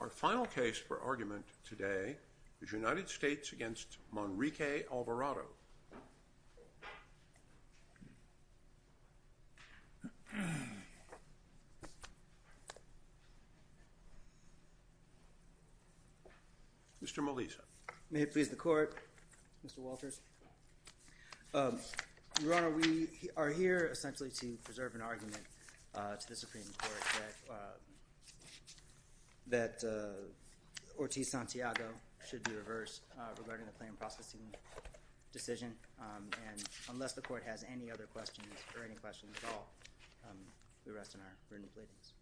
Our final case for argument today is United States v. Manriquez-Alvarado. Mr. Melisa. May it please the Court, Mr. Walters. Your Honor, we are here essentially to preserve an argument to the Supreme Court that Ortiz-Santiago should be reversed regarding the claim processing decision. And unless the Court has any other questions or any questions at all, we rest in our written pleadings.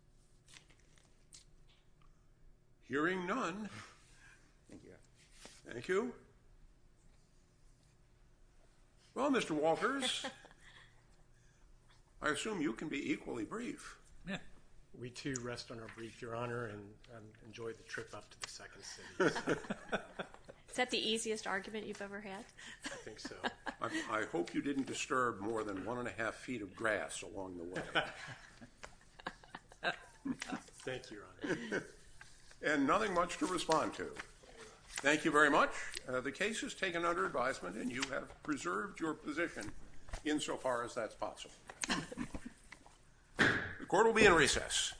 Hearing none. Thank you, Your Honor. Thank you. Well, Mr. Walters, I assume you can be equally brief. We too rest on our brief, Your Honor, and enjoy the trip up to the Second City. Is that the easiest argument you've ever had? I think so. I hope you didn't disturb more than one and a half feet of grass along the way. Thank you, Your Honor. And nothing much to respond to. Thank you very much. The case is taken under advisement, and you have preserved your position insofar as that's possible. The Court will be in recess.